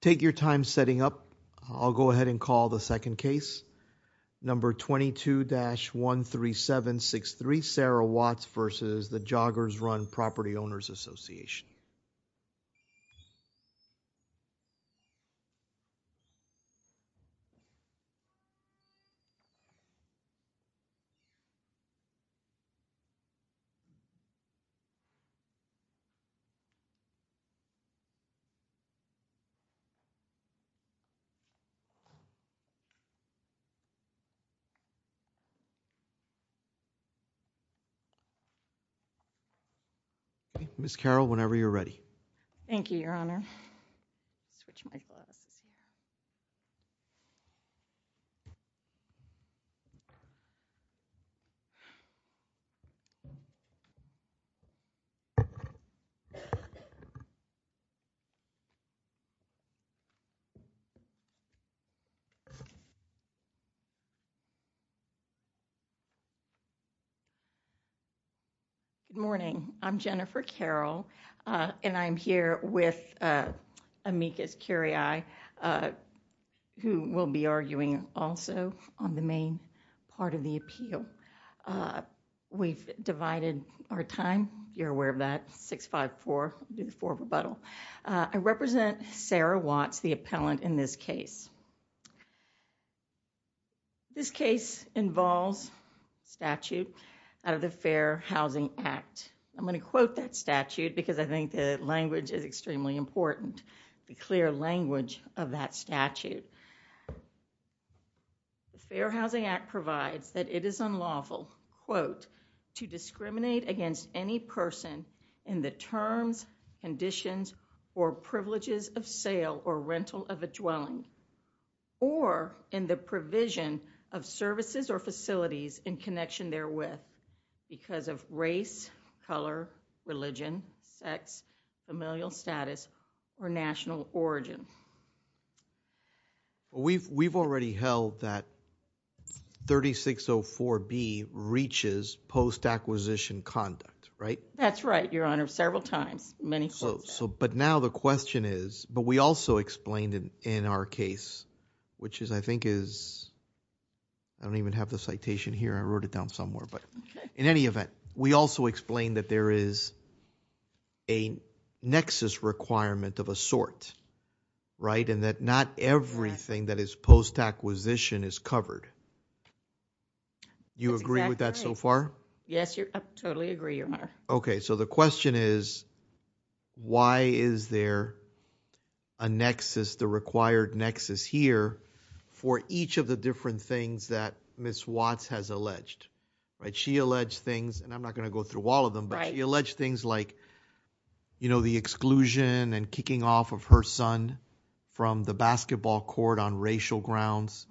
Take your time setting up, I'll go ahead and call the second case, number 22-13763, the Joggers Run Property Owners Association. Ms. Carroll, whenever you're ready. Thank you, Your Honor. Good morning, I'm Jennifer Carroll, and I'm here with Amicus Curiae, who will be arguing also on the main part of the appeal. We've divided our time, you're aware of that, 6-5-4, we'll do the four rebuttal. I represent Sarah Watts, the appellant in this case. This case involves a statute out of the Fair Housing Act. I'm going to quote that statute because I think the language is extremely important, the clear language of that statute. The Fair Housing Act provides that it is unlawful, quote, to discriminate against any person in the terms, conditions, or privileges of sale or rental of a dwelling, or in the provision of services or facilities in connection therewith because of race, color, religion, sex, familial status, or national origin. We've already held that 3604B reaches post-acquisition conduct, right? That's right, Your Honor, several times, many times. But now the question is, but we also explained in our case, which is I think is, I don't even have the citation here, I wrote it down somewhere, but in any event, we also explained that there is a nexus requirement of a sort, right? And that not everything that is post-acquisition is covered. You agree with that so far? Yes, I totally agree, Your Honor. Okay, so the question is, why is there a nexus, the required nexus here for each of the different things that Ms. Watts has alleged, right? She alleged things, and I'm not going to go through all of them, but she alleged things like, you know, the exclusion and kicking off of her son from the basketball court on racial grounds,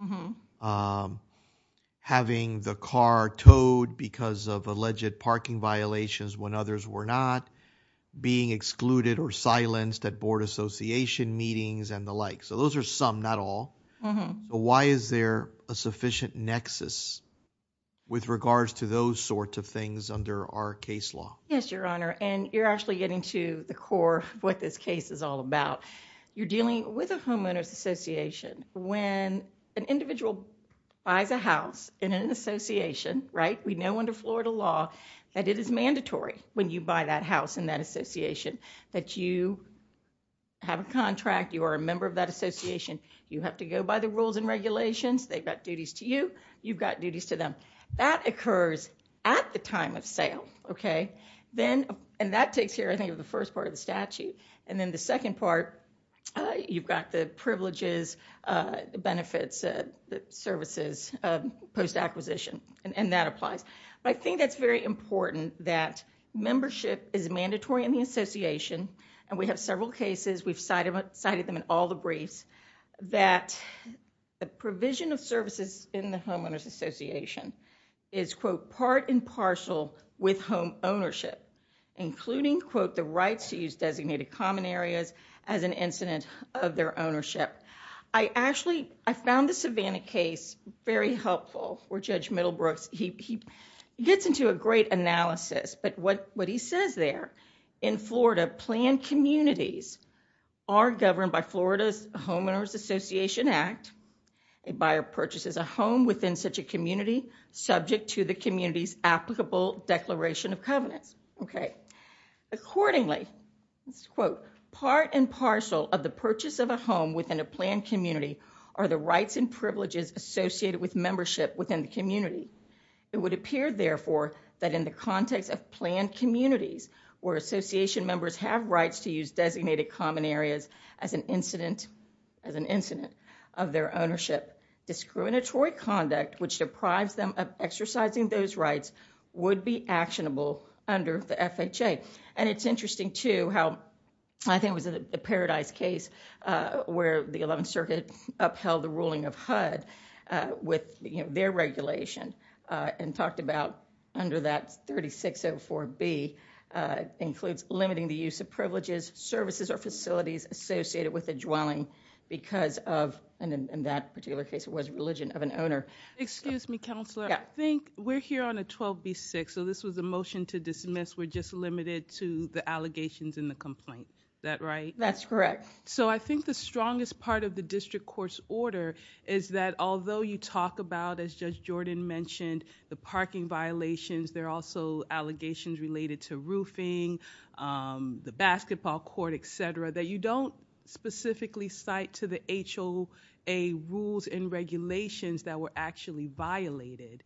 having the car towed because of alleged parking violations when others were not, being excluded or silenced at board association meetings and the like. So those are some, not all. But why is there a sufficient nexus with regards to those sorts of things under our case law? Yes, Your Honor, and you're actually getting to the core of what this case is all about. You're dealing with a homeowner's association. When an individual buys a house in an association, right, we know under Florida law that it is mandatory when you buy that house in that association that you have a contract, you are a member of that association, you have to go by the rules and regulations, they've got duties to you, you've got duties to them. That occurs at the time of sale, okay? Then, and that takes care, I think, of the first part of the statute. And then the second part, you've got the privileges, benefits, services post-acquisition, and that applies. But I think that's very important that membership is mandatory in the association, and we have several cases, we've cited them in all the briefs, that the provision of services in the homeowner's association is, quote, part and parcel with home ownership, including, quote, the rights to use designated common areas as an incident of their ownership. I actually, I found the Savannah case very helpful where Judge Middlebrooks, he gets into a great analysis, but what he says there, in Florida, planned communities are governed by Florida's Homeowners Association Act. A buyer purchases a home within such a community subject to the community's applicable declaration of covenants, okay? Accordingly, quote, part and parcel of the purchase of a home within a planned community are the rights and privileges associated with membership within the community. It would appear, therefore, that in the context of planned communities where association members have rights to use designated common areas as an incident, as an incident of their ownership, discriminatory conduct which deprives them of exercising those rights would be actionable under the FHA. And it's interesting, too, how I think it was the Paradise case where the 11th Circuit upheld the ruling of HUD with their regulation and talked about under that 3604B includes limiting the use of privileges, services, or facilities associated with a dwelling because of, and in that particular case, it was religion of an owner. Excuse me, Counselor. Yeah. I think we're here on a 12B6, so this was a motion to dismiss. We're just limited to the allegations in the complaint. Is that right? That's correct. So I think the strongest part of the district court's order is that although you talk about, as Judge Jordan mentioned, the parking violations, there are also allegations related to roofing, the basketball court, et cetera, that you don't specifically cite to the HOA rules and regulations that were actually violated.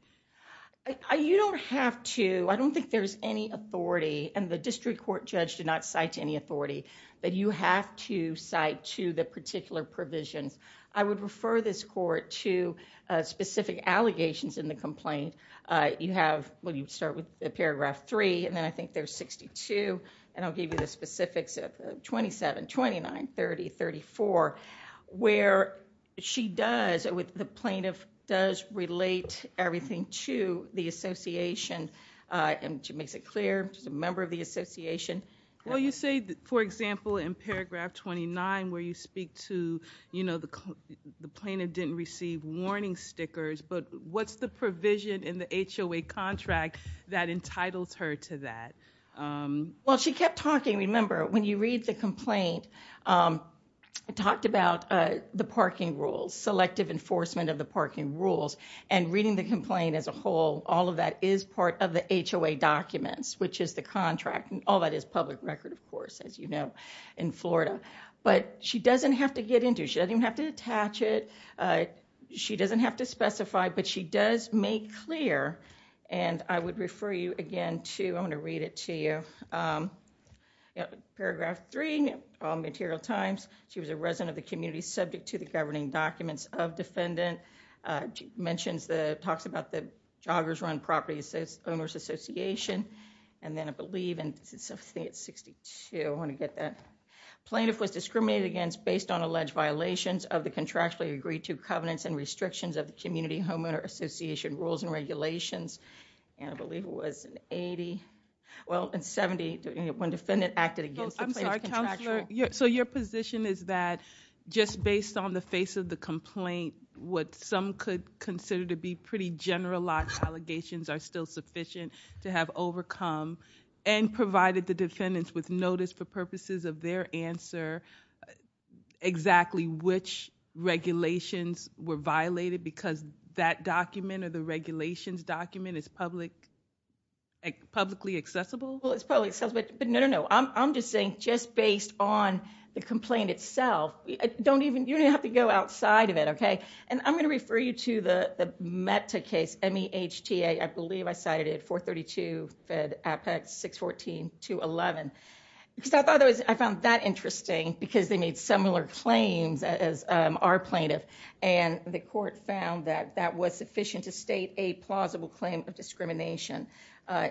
You don't have to. I don't think there's any authority, and the district court judge did not cite to any authority, that you have to cite to the particular provisions. I would refer this court to specific allegations in the complaint. You have, well, you start with Paragraph 3, and then I think there's 62, and I'll give you the specifics of 27, 29, 30, 34, where she does, the plaintiff does relate everything to the association, and she makes it clear, she's a member of the association. Well, you say, for example, in Paragraph 29, where you speak to the plaintiff didn't receive warning stickers, but what's the provision in the HOA contract that entitles her to that? Well, she kept talking, remember, when you read the complaint, it talked about the parking rules, selective enforcement of the parking rules, and reading the complaint as a whole, all of that is part of the HOA documents, which is the contract, and all that is public record, of course, as you know, in Florida. But she doesn't have to get into, she doesn't even have to attach it, she doesn't have to specify, but she does make clear, and I would refer you again to, I'm going to read it to you, Paragraph 3, Material Times, she was a resident of the community subject to the governing documents of defendant, mentions the, talks about the joggers run property owners association, and then I believe, I think it's 62, I want to get that. Plaintiff was discriminated against based on alleged violations of the contractually agreed to covenants and restrictions of the community homeowner association rules and regulations, and I believe it was in 80, well, in 70, when defendant acted against the plaintiff's contractual... I'm sorry, Counselor, so your position is that just based on the face of the complaint, what some could consider to be pretty generalized allegations are still sufficient to have overcome, and provided the defendants with notice for purposes of their answer, exactly which regulations were violated because that document or the regulations document is publicly accessible? Well, it's probably accessible, but no, no, no, I'm just saying just based on the complaint itself, don't even, you don't even have to go outside of it, okay? And I'm going to refer you to the META case, M-E-H-T-A, I believe I cited it, 432 Fed Apex 614-211, because I thought that was, I found that interesting because they made similar claims as our plaintiff, and the court found that that was sufficient to state a plausible claim of discrimination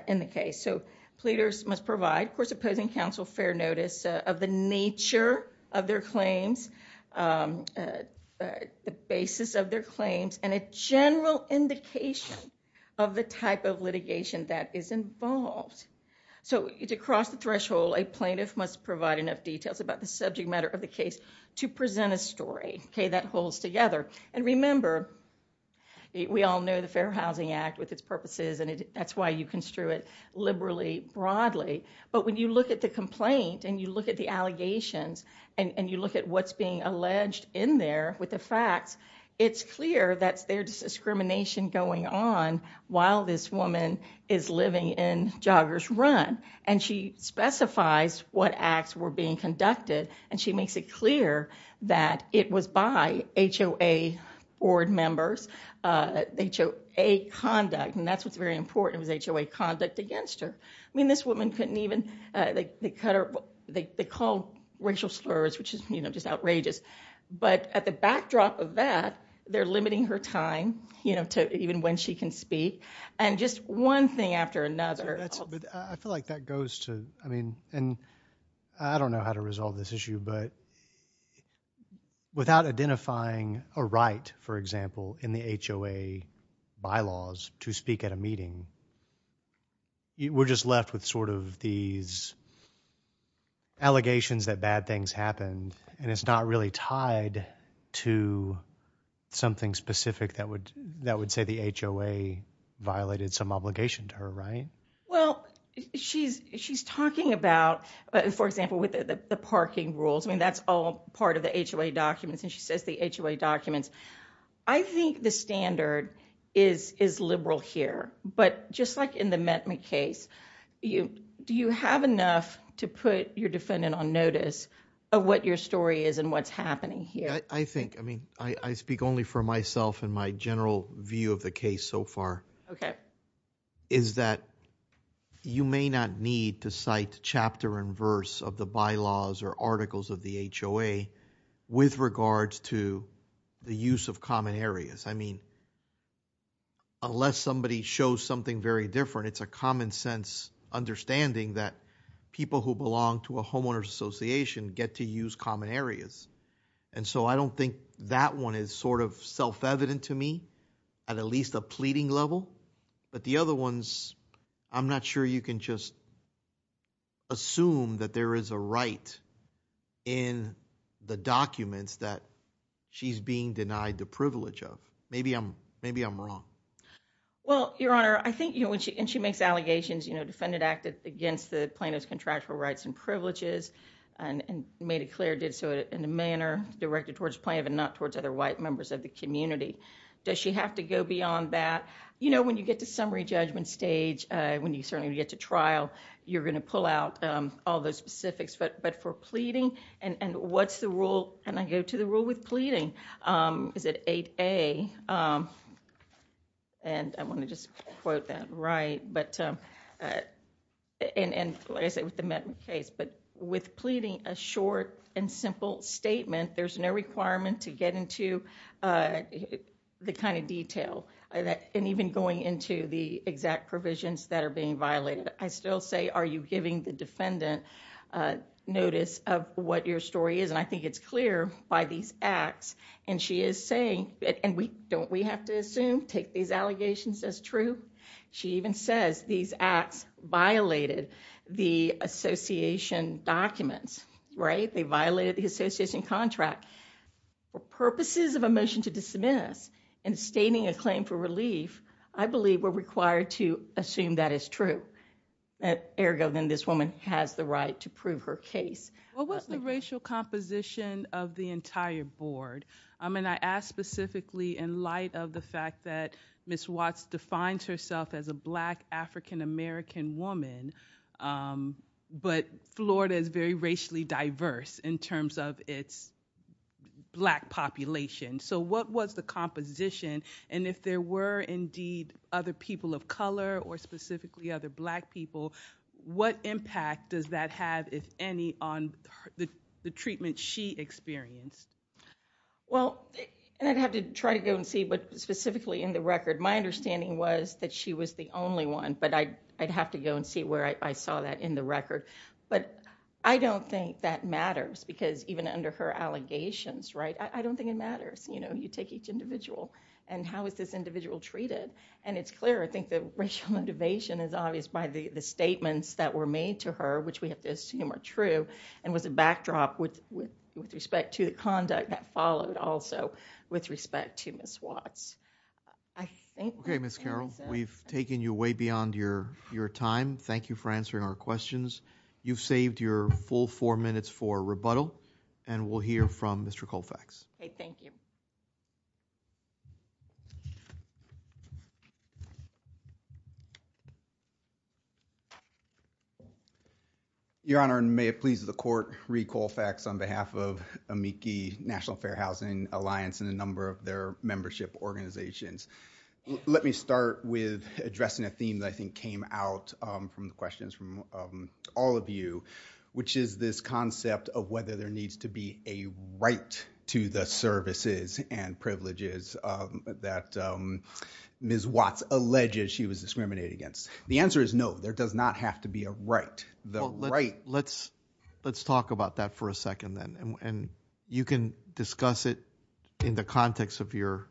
in the case, so pleaders must provide, of course, opposing counsel fair notice of the nature of their claims, the basis of their claims, and a general indication of the type of litigation that is involved. So, to cross the threshold, a plaintiff must provide enough details about the subject matter of the case to present a story, okay, that holds together, and remember, we all know the Fair Housing Act with its purposes, and that's why you construe it liberally, broadly, but when you look at the complaint, and you look at the allegations, and you look at what's being alleged in there with the facts, it's clear that there's discrimination going on while this woman is living in Joggers Run, and she specifies what acts were being conducted, and she makes it clear that it was by HOA board members, HOA conduct, and that's what's they call racial slurs, which is, you know, just outrageous, but at the backdrop of that, they're limiting her time, you know, to even when she can speak, and just one thing after another. I feel like that goes to, I mean, and I don't know how to resolve this issue, but without identifying a right, for example, in the HOA bylaws to speak at a meeting, we're just left with sort of these allegations that bad things happened, and it's not really tied to something specific that would say the HOA violated some obligation to her, right? Well, she's talking about, for example, with the parking rules, I mean, that's all part of the HOA documents, and she says the HOA documents. I think the standard is liberal here, but just like in the Metme case, do you have enough to put your defendant on notice of what your story is and what's happening here? I think, I mean, I speak only for myself and my general view of the case so far. Okay. Is that you may not need to cite chapter and verse of the bylaws or articles of the HOA with regards to the use of common areas? I mean, unless somebody shows something very different, it's a common sense understanding that people who belong to a homeowner's association get to use common areas, and so I don't think that one is sort of self-evident to me at at least a pleading level, but the other ones, I'm not sure you can just assume that there is a right in the documents that she's being denied the privilege of. Maybe I'm wrong. Well, Your Honor, I think, you know, and she makes allegations, you know, defendant acted against the plaintiff's contractual rights and privileges and made it clear, did so in a manner directed towards plaintiff and not towards other white members of the community. Does she have to go beyond that? You know, when you get to summary judgment stage, when you certainly get to trial, you're going to pull out all those specifics, but for pleading, and what's the rule, and I go to the rule with pleading, is it 8A, and I want to just quote that right, but, and like I said with the medical case, but with pleading, a short and simple statement, there's no requirement to get into the kind of detail. And even going into the exact provisions that are being violated, I still say, are you giving the defendant notice of what your story is? And I think it's clear by these acts, and she is saying, and we, don't we have to assume, take these allegations as true? She even says these acts violated the association documents, right? They violated the association contract. For purposes of a motion to dismiss, and stating a claim for relief, I believe we're required to assume that is true. Ergo, then this woman has the right to prove her case. What was the racial composition of the entire board? I mean, I ask specifically in light of the fact that Ms. Watts defines herself as a black African-American woman, but Florida is very racially diverse in terms of its black population. So what was the composition, and if there were indeed other people of color, or specifically other black people, what impact does that have, if any, on the treatment she experienced? Well, and I'd have to try to go and see, but specifically in the record, my understanding was that she was the only one, but I'd have to go and see where I saw that in the record. But I don't think that matters, because even under her allegations, right? I don't think it matters. You know, you take each individual, and how is this individual treated? And it's clear, I think, that racial motivation is obvious by the statements that were made to her, which we have to assume are true, and was a backdrop with respect to the conduct that followed also with respect to Ms. Watts. Okay, Ms. Carroll, we've taken you way beyond your time. Thank you for answering our questions. You've saved your full four minutes for rebuttal, and we'll hear from Mr. Colfax. Okay, thank you. Your Honor, and may it please the Court, Reed Colfax on behalf of AMICI National Fair Housing Alliance and a number of their membership organizations. Let me start with addressing a theme that I think came out from the questions from all of you, which is this concept of whether there needs to be a right to the services and privileges that Ms. Watts alleges she was discriminated against. The answer is no. There does not have to be a right. Let's talk about that for a second, then, and you can discuss it in the context of your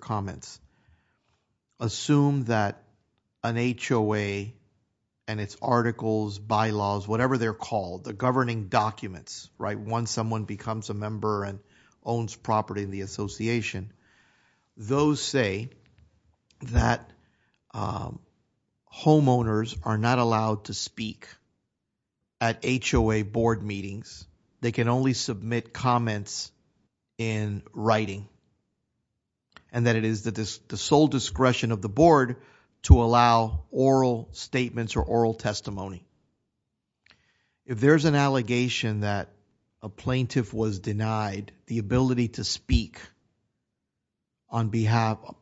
comments. Assume that an HOA and its articles, bylaws, whatever they're called, the governing documents, right, once someone becomes a member and owns property in the association, those say that homeowners are not allowed to speak at HOA board meetings. They can only submit comments in writing, and that it is the sole discretion of the board to allow oral statements or oral testimony. If there's an allegation that a plaintiff was denied the ability to speak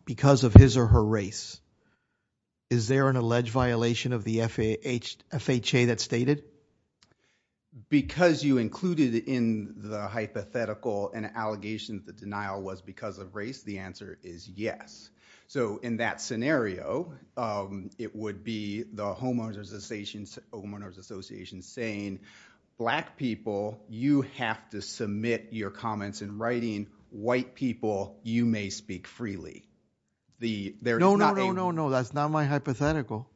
because of his or her race, is there an alleged violation of the FHA that's stated? Because you included in the hypothetical an allegation that the denial was because of race, the answer is yes. So in that scenario, it would be the homeowners association saying, black people, you have to submit your comments in writing. White people, you may speak freely. No, no, no, no, no. That's not my hypothetical.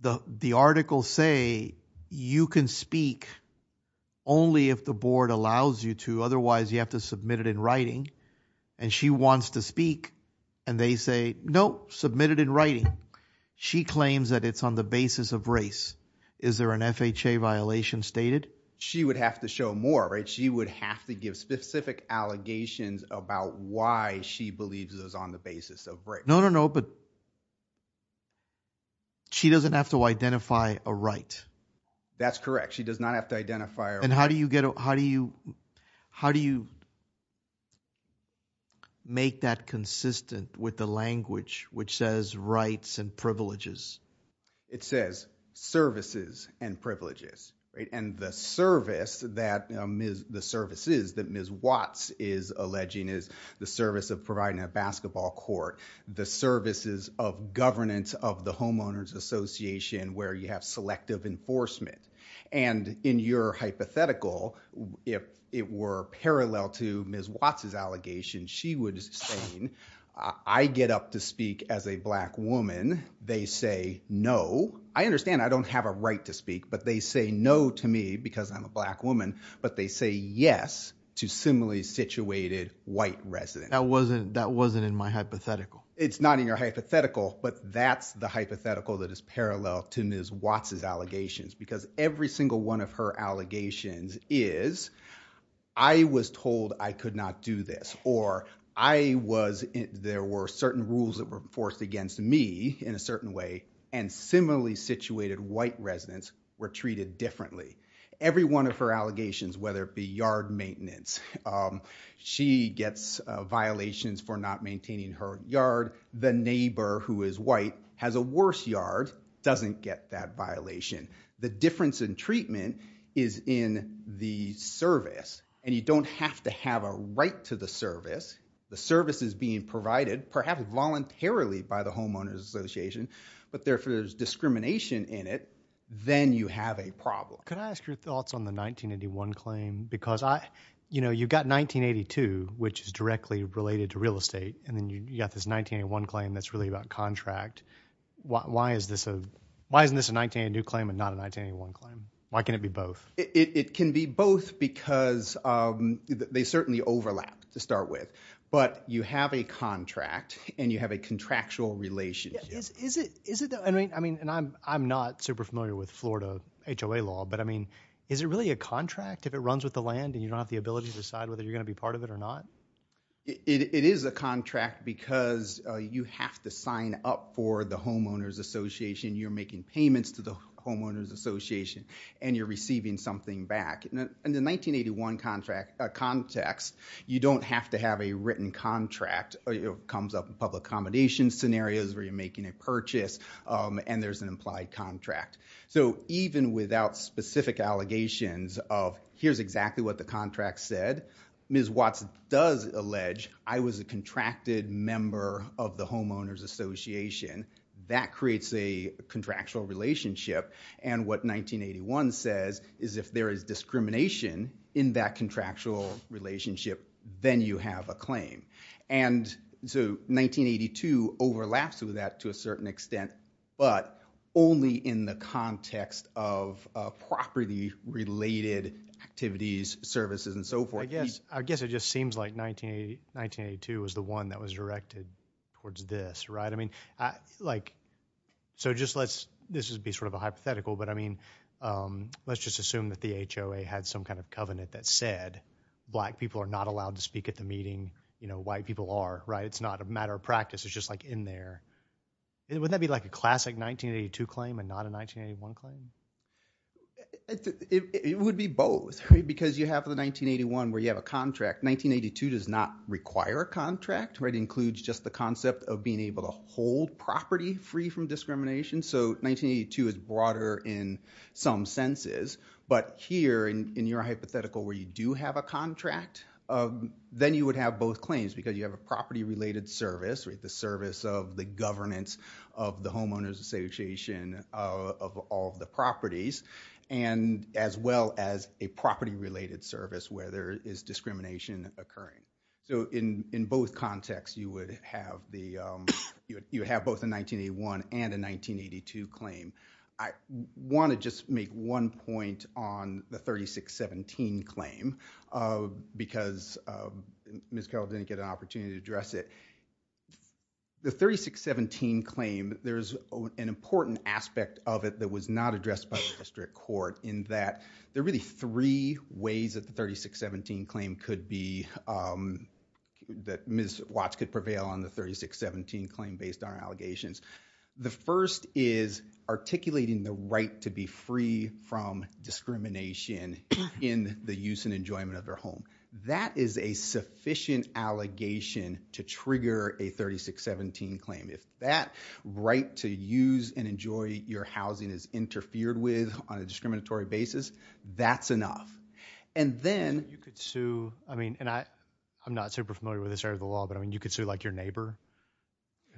The articles say you can speak only if the board allows you to. And she wants to speak, and they say, no, submit it in writing. She claims that it's on the basis of race. Is there an FHA violation stated? She would have to show more, right? She would have to give specific allegations about why she believes it was on the basis of race. No, no, no, but she doesn't have to identify a right. That's correct. She does not have to identify a right. And how do you make that consistent with the language which says rights and privileges? It says services and privileges, right? And the services that Ms. Watts is alleging is the service of providing a basketball court, the services of governance of the homeowners association where you have selective enforcement. And in your hypothetical, if it were parallel to Ms. Watts' allegation, she would say I get up to speak as a black woman. They say no. I understand I don't have a right to speak, but they say no to me because I'm a black woman, but they say yes to similarly situated white residents. That wasn't in my hypothetical. It's not in your hypothetical, but that's the hypothetical that is parallel to Ms. Watts' allegations because every single one of her allegations is I was told I could not do this or there were certain rules that were forced against me in a certain way and similarly situated white residents were treated differently. Every one of her allegations, whether it be yard maintenance, she gets violations for not maintaining her yard. The neighbor who is white has a worse yard doesn't get that violation. The difference in treatment is in the service, and you don't have to have a right to the service. The service is being provided, perhaps voluntarily by the homeowners association, but if there's discrimination in it, then you have a problem. Can I ask your thoughts on the 1981 claim? Because you've got 1982, which is directly related to real estate, and then you've got this 1981 claim that's really about contract. Why isn't this a 1982 claim and not a 1981 claim? Why can't it be both? It can be both because they certainly overlap to start with, but you have a contract and you have a contractual relationship. I'm not super familiar with Florida HOA law, but is it really a contract if it runs with the land and you don't have the ability to decide whether you're going to be part of it or not? It is a contract because you have to sign up for the homeowners association. You're making payments to the homeowners association, and you're receiving something back. In the 1981 context, you don't have to have a written contract. It comes up in public accommodation scenarios where you're making a purchase, and there's an implied contract. So even without specific allegations of here's exactly what the contract said, Ms. Watts does allege I was a contracted member of the homeowners association. That creates a contractual relationship, and what 1981 says is if there is discrimination in that contractual relationship, then you have a claim. And so 1982 overlaps with that to a certain extent, but only in the context of property-related activities, services, and so forth. I guess it just seems like 1982 was the one that was directed towards this, right? I mean, like, so just let's, this would be sort of a hypothetical, but I mean let's just assume that the HOA had some kind of covenant that said black people are not allowed to speak at the meeting. You know, white people are, right? It's not a matter of practice. It's just like in there. Wouldn't that be like a classic 1982 claim and not a 1981 claim? It would be both, right? Because you have the 1981 where you have a contract. 1982 does not require a contract, right? It includes just the concept of being able to hold property free from discrimination. So 1982 is broader in some senses, but here in your hypothetical where you do have a contract, then you would have both claims because you have a property-related service, the service of the governance of the Homeowners Association of all the properties, and as well as a property-related service where there is discrimination occurring. So in both contexts, you would have both a 1981 and a 1982 claim. I want to just make one point on the 3617 claim because Ms. Carroll didn't get an opportunity to address it. The 3617 claim, there's an important aspect of it that was not addressed by the district court in that there are really three ways that the 3617 claim could be, that Ms. Watts could prevail on the 3617 claim based on allegations. The first is articulating the right to be free from discrimination in the use and enjoyment of their home. That is a sufficient allegation to trigger a 3617 claim. If that right to use and enjoy your housing is interfered with on a discriminatory basis, that's enough. And then you could sue, I mean, and I'm not super familiar with this area of the law, but I mean you could sue like your neighbor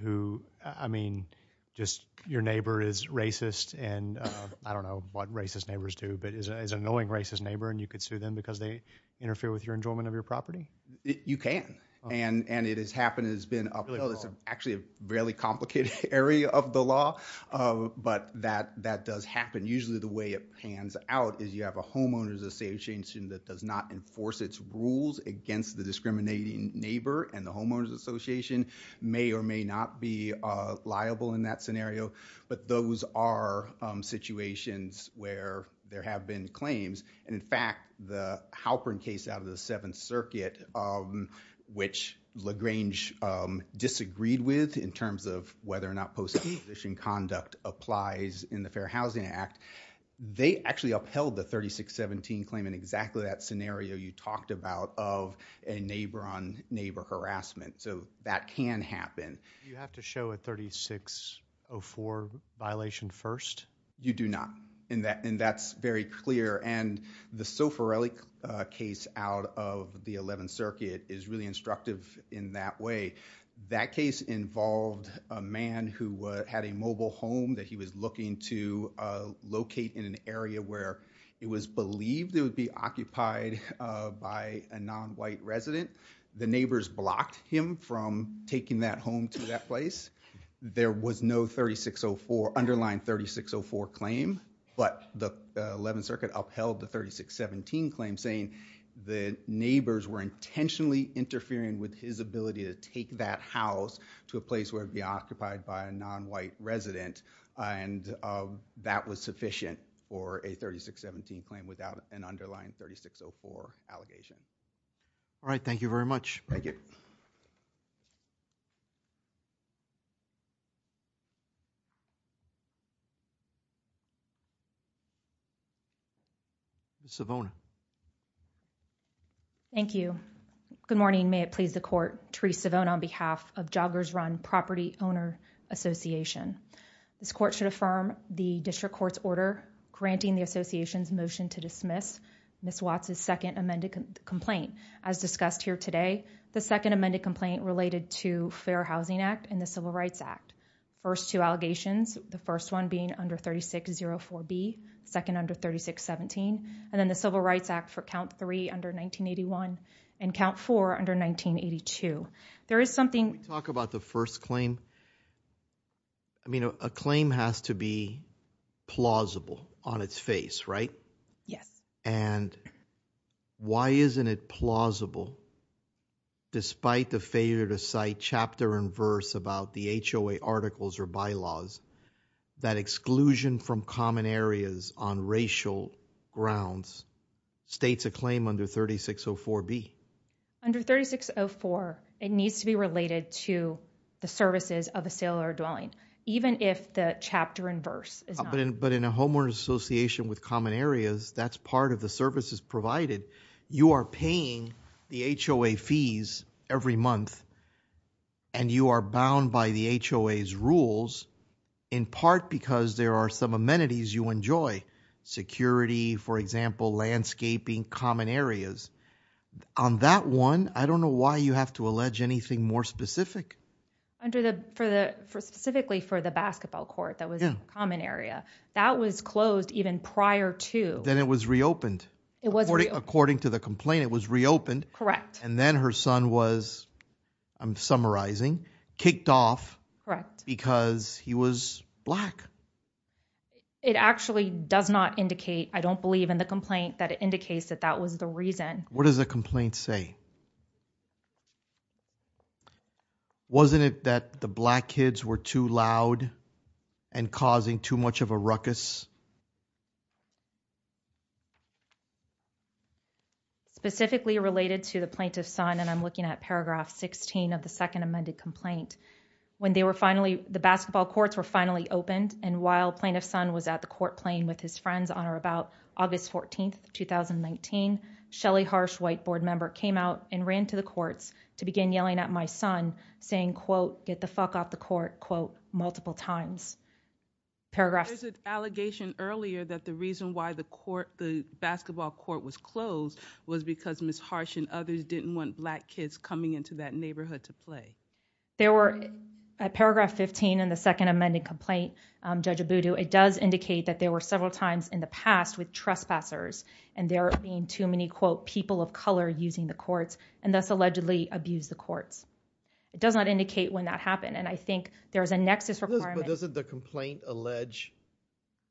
who, I mean, just your neighbor is racist and I don't know what racist neighbors do, but is an annoying racist neighbor and you could sue them because they interfere with your enjoyment of your property? You can. And it has happened, it has been upheld. It's actually a fairly complicated area of the law, but that does happen. Usually the way it pans out is you have a homeowners association that does not enforce its rules against the discriminating neighbor and the homeowners association may or may not be liable in that scenario, but those are situations where there have been claims. And in fact, the Halperin case out of the Seventh Circuit, which LaGrange disagreed with in terms of whether or not post acquisition conduct applies in the Fair Housing Act, they actually upheld the 3617 claim in exactly that scenario you talked about of a neighbor on neighbor harassment. So that can happen. Do you have to show a 3604 violation first? You do not. And that's very clear. And the Soforelli case out of the Eleventh Circuit is really instructive in that way. That case involved a man who had a mobile home that he was looking to locate in an area where it was believed it would be occupied by a nonwhite resident. The neighbors blocked him from taking that home to that place. There was no 3604, underlying 3604 claim, but the Eleventh Circuit upheld the 3617 claim saying the neighbors were intentionally interfering with his ability to take that house to a place where it would be occupied by a nonwhite resident and that was sufficient for a 3617 claim without an underlying 3604 allegation. All right. Thank you very much. Thank you. Thank you. Ms. Savona. Thank you. Good morning. May it please the court, Terese Savona on behalf of Joggers Run Property Owner Association. This court should affirm the district court's order granting the association's motion to dismiss Ms. Watts' second amended complaint. As discussed here today, the second amended complaint related to Fair Housing Act and the Civil Rights Act. First two allegations, the first one being under 3604B, second under 3617, and then the Civil Rights Act for count three under 1981 and count four under 1982. There is something- Can we talk about the first claim? I mean, a claim has to be plausible on its face, right? Yes. And why isn't it plausible, despite the failure to cite chapter and verse about the HOA articles or bylaws, that exclusion from common areas on racial grounds states a claim under 3604B. Under 3604, it needs to be related to the services of a sale or dwelling, even if the chapter and verse is not. But in a homeowner's association with common areas, that's part of the services provided. You are paying the HOA fees every month, and you are bound by the HOA's rules, in part because there are some amenities you enjoy. Security, for example, landscaping, common areas. On that one, I don't know why you have to allege anything more specific. Under the- Specifically for the basketball court, that was a common area. That was closed even prior to- Then it was reopened. It was reopened. According to the complaint, it was reopened. Correct. And then her son was, I'm summarizing, kicked off. Correct. Because he was black. It actually does not indicate, I don't believe in the complaint, that it indicates that that was the reason. What does the complaint say? Wasn't it that the black kids were too loud and causing too much of a ruckus? Specifically related to the plaintiff's son, and I'm looking at paragraph 16 of the second amended complaint. When they were finally, the basketball courts were finally opened, and while plaintiff's son was at the court playing with his friends on or about August 14th, 2019, Shelly Harsh, white board member, came out and ran to the courts to begin yelling at my son, saying, quote, get the fuck off the court, quote, multiple times. There's an allegation earlier that the reason why the basketball court was closed was because Ms. Harsh and others didn't want black kids coming into that neighborhood to play. There were, at paragraph 15 in the second amended complaint, Judge Abudu, it does indicate that there were several times in the past with trespassers, and there being too many, quote, people of color using the courts, and thus allegedly abused the courts. It does not indicate when that happened, and I think there's a nexus requirement. But doesn't the complaint allege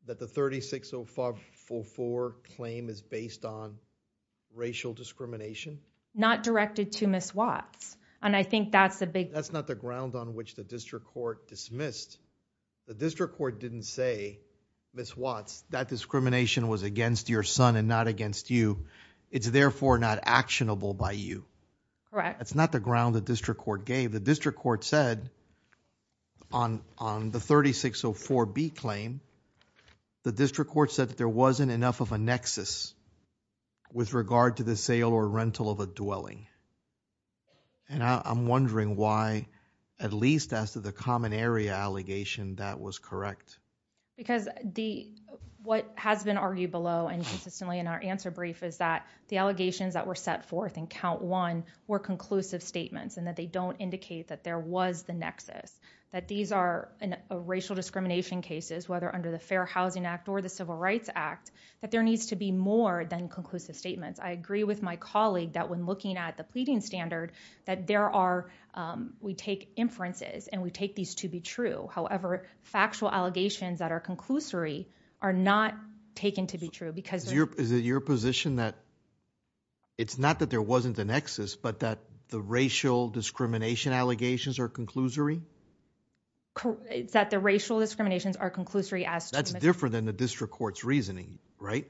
that the 360544 claim is based on racial discrimination? Not directed to Ms. Watts, and I think that's the big... That's not the ground on which the district court dismissed. The district court didn't say, Ms. Watts, that discrimination was against your son and not against you. It's therefore not actionable by you. Correct. That's not the ground the district court gave. The district court said on the 3604B claim, the district court said that there wasn't enough of a nexus with regard to the sale or rental of a dwelling. And I'm wondering why, at least as to the common area allegation, that was correct. Because what has been argued below and consistently in our answer brief is that the allegations that were set forth in count one were conclusive statements and that they don't indicate that there was the nexus, that these are racial discrimination cases, whether under the Fair Housing Act or the Civil Rights Act, that there needs to be more than conclusive statements. I agree with my colleague that when looking at the pleading standard, that there are... We take inferences and we take these to be true. However, factual allegations that are conclusory are not taken to be true because... Is it your position that... ...but that the racial discrimination allegations are conclusory? That the racial discriminations are conclusory as to... That's different than the district court's reasoning, right?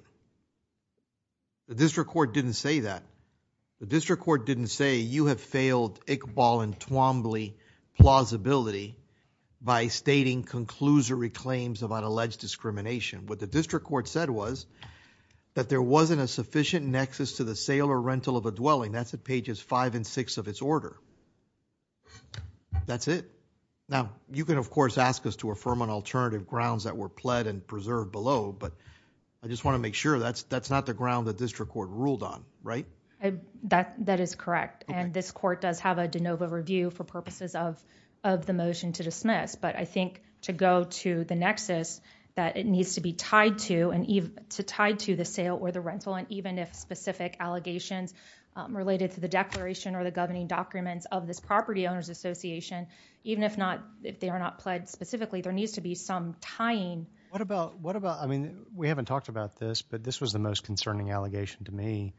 The district court didn't say that. The district court didn't say, you have failed Iqbal and Twombly plausibility by stating conclusory claims about alleged discrimination. What the district court said was that there wasn't a sufficient nexus to the sale or rental of a dwelling. That's at pages five and six of its order. That's it. Now, you can, of course, ask us to affirm on alternative grounds that were pled and preserved below, but I just want to make sure that's not the ground the district court ruled on, right? That is correct, and this court does have a de novo review for purposes of the motion to dismiss, that it needs to be tied to the sale or the rental, and even if specific allegations related to the declaration or the governing documents of this property owners association, even if they are not pled specifically, there needs to be some tying. What about, I mean, we haven't talked about this, but this was the most concerning allegation to me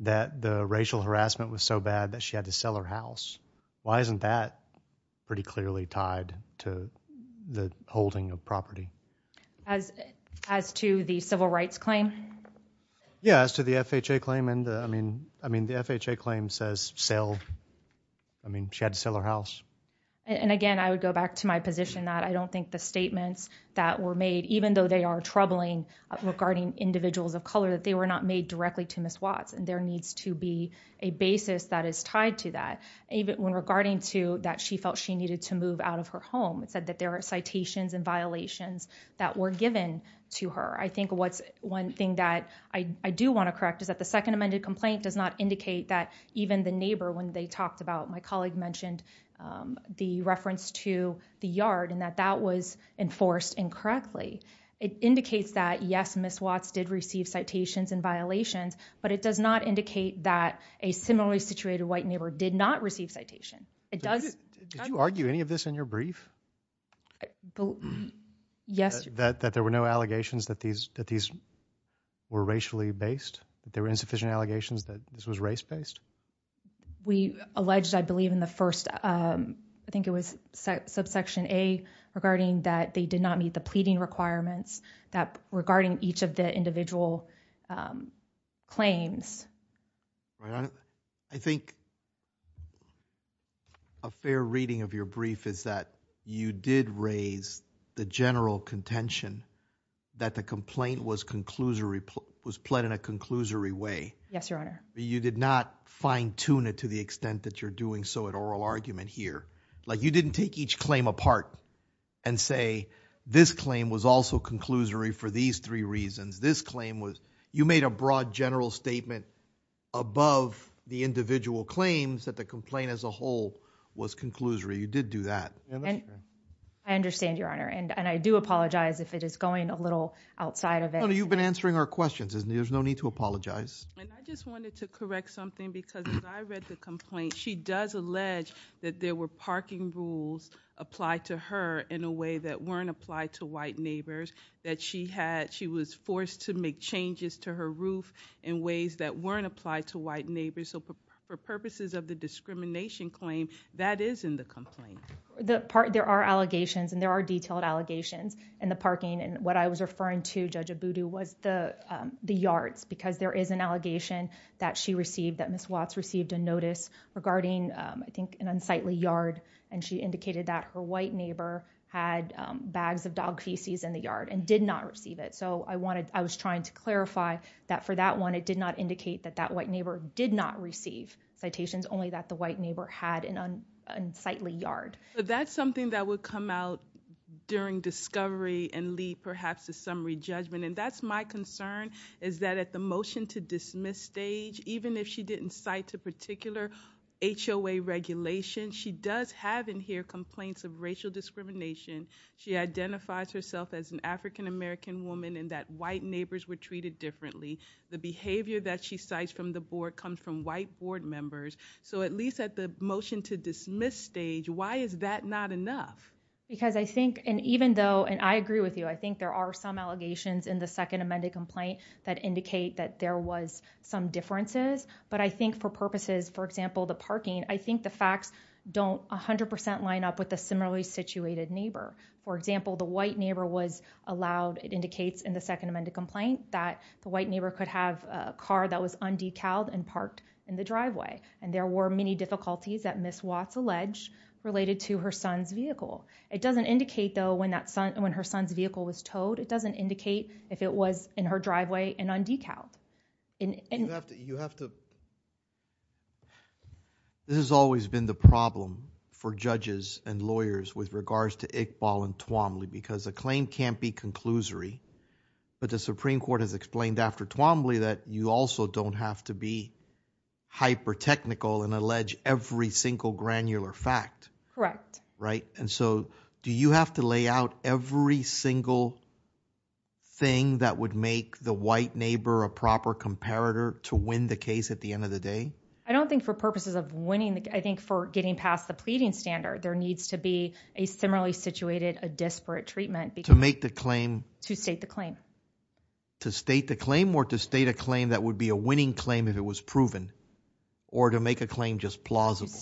that the racial harassment was so bad that she had to sell her house. Why isn't that pretty clearly tied to the holding of property? As to the civil rights claim? Yeah, as to the FHA claim, and I mean, the FHA claim says sale. I mean, she had to sell her house. And again, I would go back to my position that I don't think the statements that were made, even though they are troubling regarding individuals of color, that they were not made directly to Ms. Watts, and there needs to be a basis that is tied to that. Even regarding to that she felt she needed to move out of her home, it said that there are citations and violations that were given to her. I think one thing that I do want to correct is that the second amended complaint does not indicate that even the neighbor, when they talked about, my colleague mentioned the reference to the yard and that that was enforced incorrectly. It indicates that, yes, Ms. Watts did receive citations and violations, but it does not indicate that a similarly situated white neighbor did not receive citation. Did you argue any of this in your brief? Yes. That there were no allegations that these were racially based, that there were insufficient allegations that this was race-based? We alleged, I believe, in the first, I think it was subsection A, regarding that they did not meet the pleading requirements regarding each of the individual claims. I think a fair reading of your brief is that you did raise the general contention that the complaint was pled in a conclusory way. Yes, Your Honor. You did not fine-tune it to the extent that you're doing so in oral argument here. You didn't take each claim apart and say this claim was also conclusory for these three reasons. You made a broad general statement above the individual claims that the complaint as a whole was conclusory. You did do that. I understand, Your Honor, and I do apologize if it is going a little outside of it. You've been answering our questions. There's no need to apologize. I just wanted to correct something because as I read the complaint, she does allege that there were parking rules applied to her in a way that weren't applied to white neighbors, that she was forced to make changes to her roof in ways that weren't applied to white neighbors. For purposes of the discrimination claim, that is in the complaint. There are allegations, and there are detailed allegations in the parking, and what I was referring to, Judge Abudu, was the yards because there is an allegation that she received, that Ms. Watts received a notice regarding, I think, an unsightly yard, and she indicated that her white neighbor had bags of dog feces in the yard and did not receive it. I was trying to clarify that for that one, it did not indicate that that white neighbor did not receive citations, only that the white neighbor had an unsightly yard. But that's something that would come out during discovery and lead, perhaps, to summary judgment, and that's my concern, is that at the motion to dismiss stage, even if she didn't cite a particular HOA regulation, she does have in here complaints of racial discrimination. She identifies herself as an African-American woman and that white neighbors were treated differently. The behavior that she cites from the board comes from white board members, so at least at the motion to dismiss stage, why is that not enough? Because I think, and even though, and I agree with you, I think there are some allegations in the second amended complaint that indicate that there was some differences, but I think for purposes, for example, the parking, I think the facts don't 100% line up with the similarly situated neighbor. For example, the white neighbor was allowed, it indicates in the second amended complaint, that the white neighbor could have a car that was undecaled and parked in the driveway, and there were many difficulties that Ms. Watts alleged related to her son's vehicle. It doesn't indicate, though, when her son's vehicle was towed, it doesn't indicate if it was in her driveway and undecaled. This has always been the problem for judges and lawyers with regards to Iqbal and Twombly because a claim can't be conclusory, but the Supreme Court has explained after Twombly that you also don't have to be hyper-technical and allege every single granular fact. Correct. Right? And so do you have to lay out every single thing that would make the white neighbor a proper comparator to win the case at the end of the day? I don't think for purposes of winning, I think for getting past the pleading standard, there needs to be a similarly situated, a disparate treatment. To make the claim... To state the claim. To state the claim or to state a claim that would be a winning claim if it was proven or to make a claim just plausible.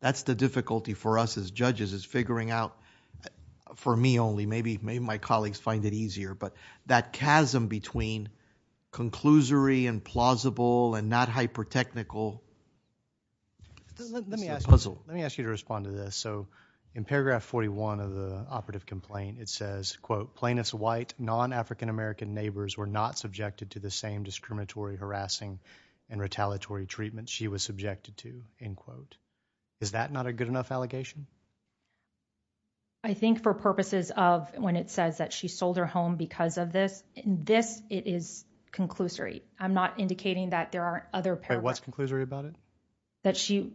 That's the difficulty for us as judges, is figuring out, for me only, maybe my colleagues find it easier, but that chasm between conclusory and plausible and not hyper-technical... Let me ask you to respond to this. So in paragraph 41 of the operative complaint, it says, quote, plain as white, non-African-American neighbors were not subjected to the same discriminatory, harassing, and retaliatory treatment she was subjected to, end quote. Is that not a good enough allegation? I think for purposes of when it says that she sold her home because of this, in this, it is conclusory. I'm not indicating that there are other... Wait, what's conclusory about it? That she...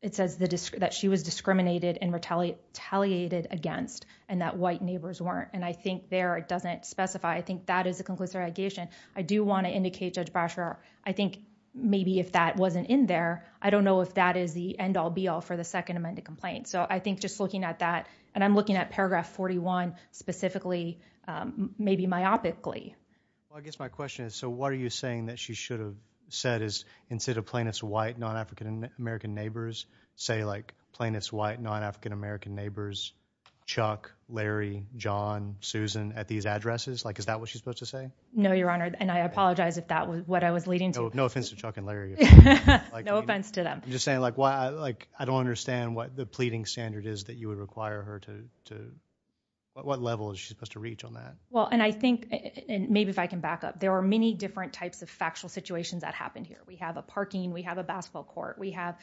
It says that she was discriminated and retaliated against and that white neighbors weren't, and I think there it doesn't specify. I think that is a conclusory allegation. I do want to indicate, Judge Brasher, I think maybe if that wasn't in there, I don't know if that is the end-all, be-all for the second amended complaint. So I think just looking at that, and I'm looking at paragraph 41 specifically, maybe myopically. Well, I guess my question is, so what are you saying that she should have said is instead of plain as white, non-African-American neighbors, say like plain as white, non-African-American neighbors, Chuck, Larry, John, Susan, at these addresses? Is that what she's supposed to say? No, Your Honor, and I apologize if that was what I was leading to. No offense to Chuck and Larry. No offense to them. I'm just saying, I don't understand what the pleading standard is that you would require her to... What level is she supposed to reach on that? Well, and I think, and maybe if I can back up, there are many different types of factual situations that happen here. We have a parking. We have a basketball court. We have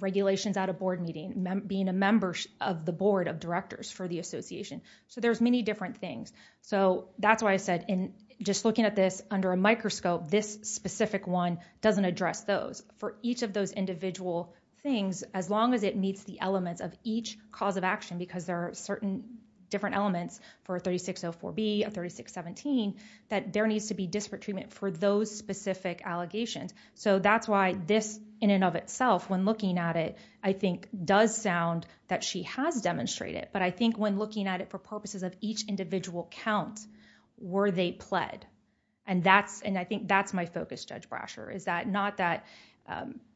regulations at a board meeting. Being a member of the board of directors for the association. So there's many different things. So that's why I said, and just looking at this under a microscope, this specific one doesn't address those. For each of those individual things, as long as it meets the elements of each cause of action, because there are certain different elements for a 3604B, a 3617, that there needs to be disparate treatment for those specific allegations. So that's why this in and of itself, when looking at it, I think does sound that she has demonstrated, but I think when looking at it for purposes of each individual count, were they pled? And I think that's my focus, Judge Brasher, is that not that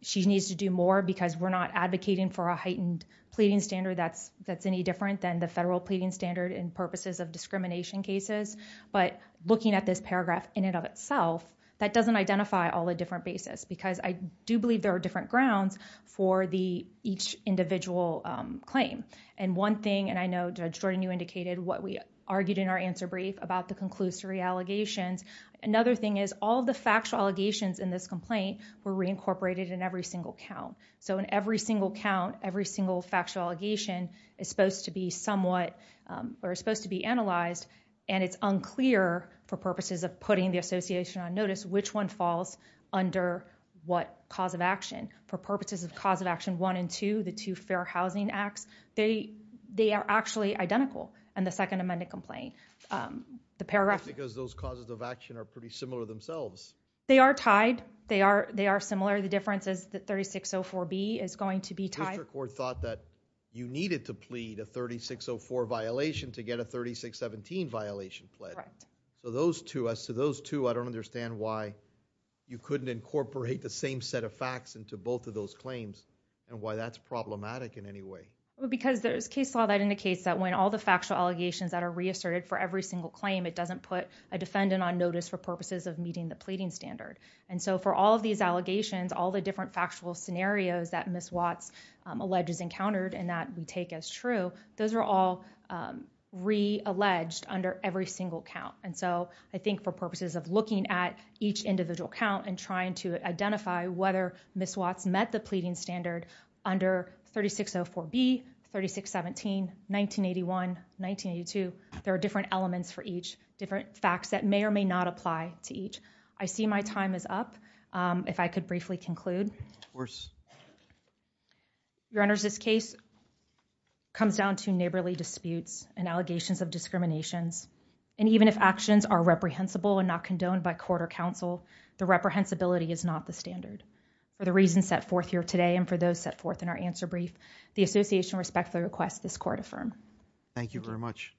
she needs to do more because we're not advocating for a heightened pleading standard that's any different than the federal pleading standard in purposes of discrimination cases, but looking at this paragraph in and of itself, that doesn't identify all the different bases because I do believe there are different grounds for each individual claim. And one thing, and I know Judge Jordan, you indicated what we argued in our answer brief about the conclusory allegations. Another thing is all the factual allegations in this complaint were reincorporated in every single count. So in every single count, every single factual allegation is supposed to be analyzed, and it's unclear, for purposes of putting the association on notice, which one falls under what cause of action for purposes of cause of action one and two, the two fair housing acts, they are actually identical in the second amended complaint. The paragraph- Because those causes of action are pretty similar themselves. They are tied. They are similar. The difference is that 3604B is going to be tied. The district court thought that you needed to plead a 3604 violation to get a 3617 violation pled. Correct. So those two, I don't understand why you couldn't incorporate the same set of facts into both of those claims and why that's problematic in any way. Because there's case law that indicates that when all the factual allegations that are reasserted for every single claim, it doesn't put a defendant on notice for purposes of meeting the pleading standard. And so for all of these allegations, all the different factual scenarios that Ms. Watts alleges encountered and that we take as true, those are all realleged under every single count. And so I think for purposes of looking at each individual count and trying to identify whether Ms. Watts met the pleading standard under 3604B, 3617, 1981, 1982, there are different elements for each, different facts that may or may not apply to each. I see my time is up. If I could briefly conclude. Of course. Your Honor, this case comes down to neighborly disputes and allegations of discriminations. And even if actions are reprehensible and not condoned by court or counsel, the reprehensibility is not the standard. For the reasons set forth here today and for those set forth in our answer brief, the association respectfully requests this court affirm. Thank you very much.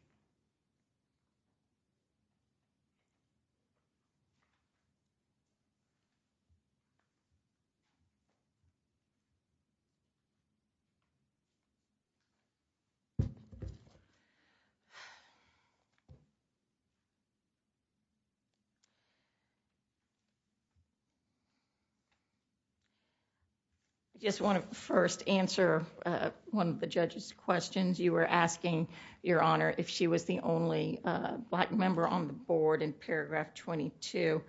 I just want to first answer one of the judge's questions. You were asking, Your Honor, if she was the only black member on the board in paragraph 22.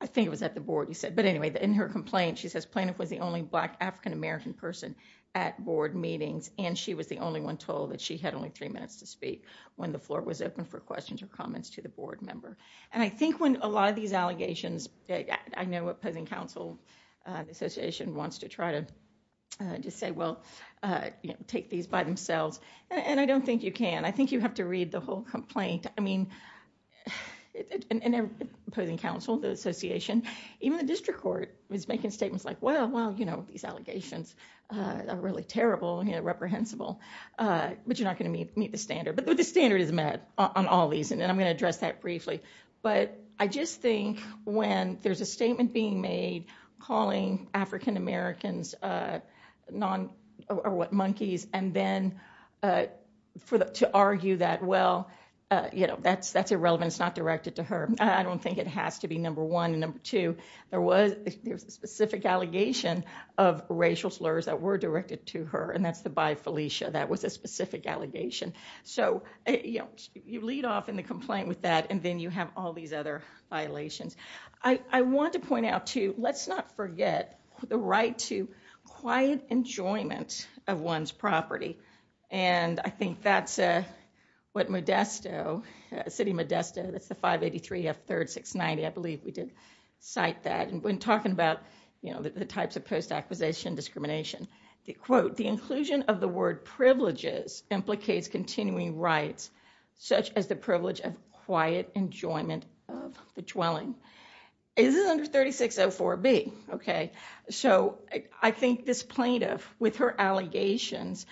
I think it was at the board you said. But anyway, in her complaint, she says Planoff was the only black African-American person at board meetings and she was the only one told that she had only three minutes to speak when the floor was open for questions or comments to the board member. And I think when a lot of these allegations I know Opposing Counsel Association wants to try to say, well, take these by themselves. And I don't think you can. I think you have to read the whole complaint. I mean, Opposing Counsel Association, even the district court, is making statements like, well, these allegations are really terrible and reprehensible. But you're not going to meet the standard. But the standard is met on all these and I'm going to address that briefly. But I just think when there's a statement being made calling African-Americans monkeys and then to argue that, well, that's irrelevant. It's not directed to her. I don't think it has to be, number one. Number two, there was a specific allegation of racial slurs that were directed to her and that's by Felicia. That was a specific allegation. So you lead off in the complaint with that and then you have all these other violations. I want to point out, too, let's not forget the right to quiet enjoyment of one's property. And I think that's what Modesto, City of Modesto, that's the 583F3-690, I believe we did cite that. And when talking about the types of post-acquisition discrimination, quote, the inclusion of the word privileges implicates continuing rights such as the privilege of quiet enjoyment of the dwelling. This is under 3604B, okay? So I think this plaintiff, with her allegations,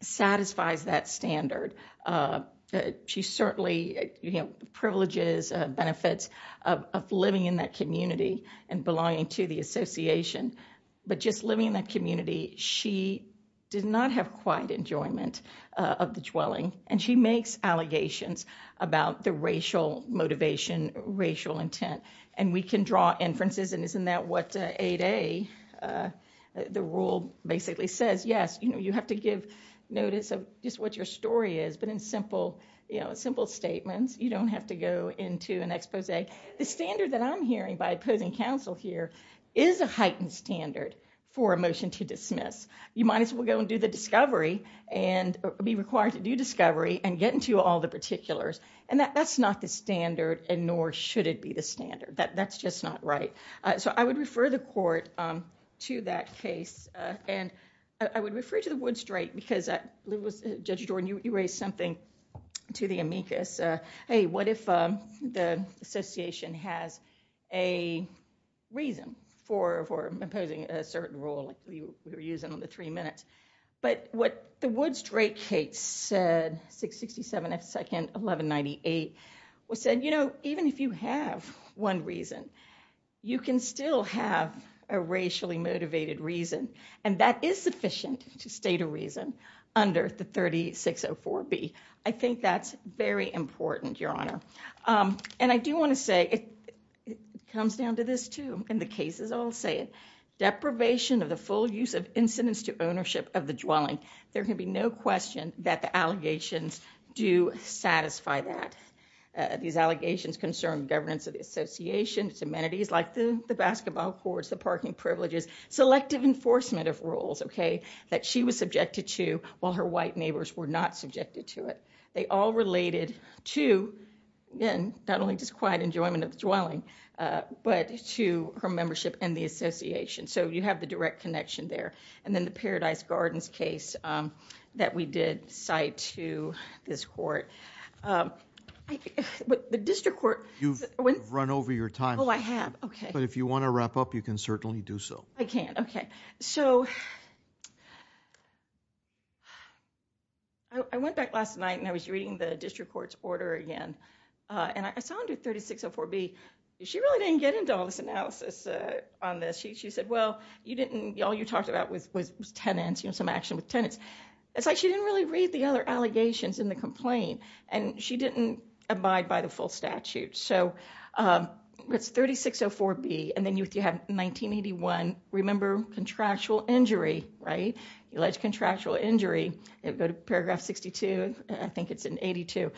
satisfies that standard. She certainly, you know, privileges benefits of living in that community and belonging to the association. But just living in that community, she did not have quiet enjoyment of the dwelling and she makes allegations about the racial motivation, racial intent, and we can draw inferences and isn't that what 8A, the rule, basically says? Yes, you know, you have to give notice of just what your story is, but in simple, you know, simple statements, you don't have to go into an expose. The standard that I'm hearing by opposing counsel here is a heightened standard for a motion to dismiss. You might as well go and do the discovery and be required to do discovery and get into all the particulars and that's not the standard and nor should it be the standard. That's just not right. So I would refer the court to that case and I would refer you to the Wood Strait because Judge Jordan, you raised something to the amicus. Hey, what if the association has a reason for opposing a certain rule like we were using on the three minutes? But what the Wood Strait case said, 667 F 2nd 1198, said, you know, even if you have one reason, you can still have a racially motivated reason and that is sufficient to state a reason under the 3604B. I think that's very important, Your Honor. And I do want to say it comes down to this too and the cases all say it. Deprivation of the full use of incidents to ownership of the dwelling. There can be no question that the allegations do satisfy that. These allegations concern governance of the association, its amenities like the basketball courts, the parking privileges, selective enforcement of rules, okay, that she was subjected to while her white neighbors were not subjected to it. They all related to, again, not only just quiet enjoyment of the dwelling, but to her membership in the association. So you have the direct connection there. And then the Paradise Gardens case that we did cite to this court. The district court... You've run over your time. Oh, I have, okay. But if you want to wrap up, you can certainly do so. I can, okay. So I went back last night and I was reading the district court's order again. And I saw under 3604B, she really didn't get into all this analysis on this. She said, well, all you talked about was tenants, some action with tenants. It's like she didn't really read the other allegations in the complaint and she didn't abide by the full statute. So it's 3604B. And then you have 1981. Remember contractual injury, right? Alleged contractual injury, go to paragraph 62. I think it's in 82.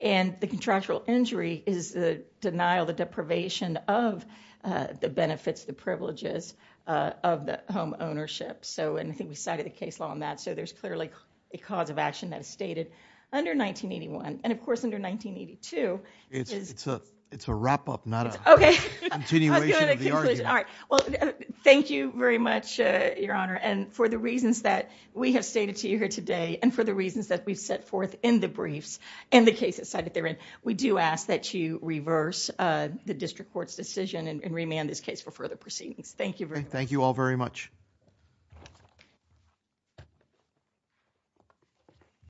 And the contractual injury is the denial, the deprivation of the benefits, the privileges of the home ownership. So, and I think we cited a case law on that. So there's clearly a cause of action that is stated under 1981. And of course, under 1982... It's a wrap up, not a continuation of the argument. All right. Well, thank you very much, Your Honor. And for the reasons that we have stated to you here today and for the reasons that we've set forth in the briefs and the cases cited therein, we do ask that you reverse the district court's decision and remand this case for further proceedings. Thank you very much. Thank you all very much.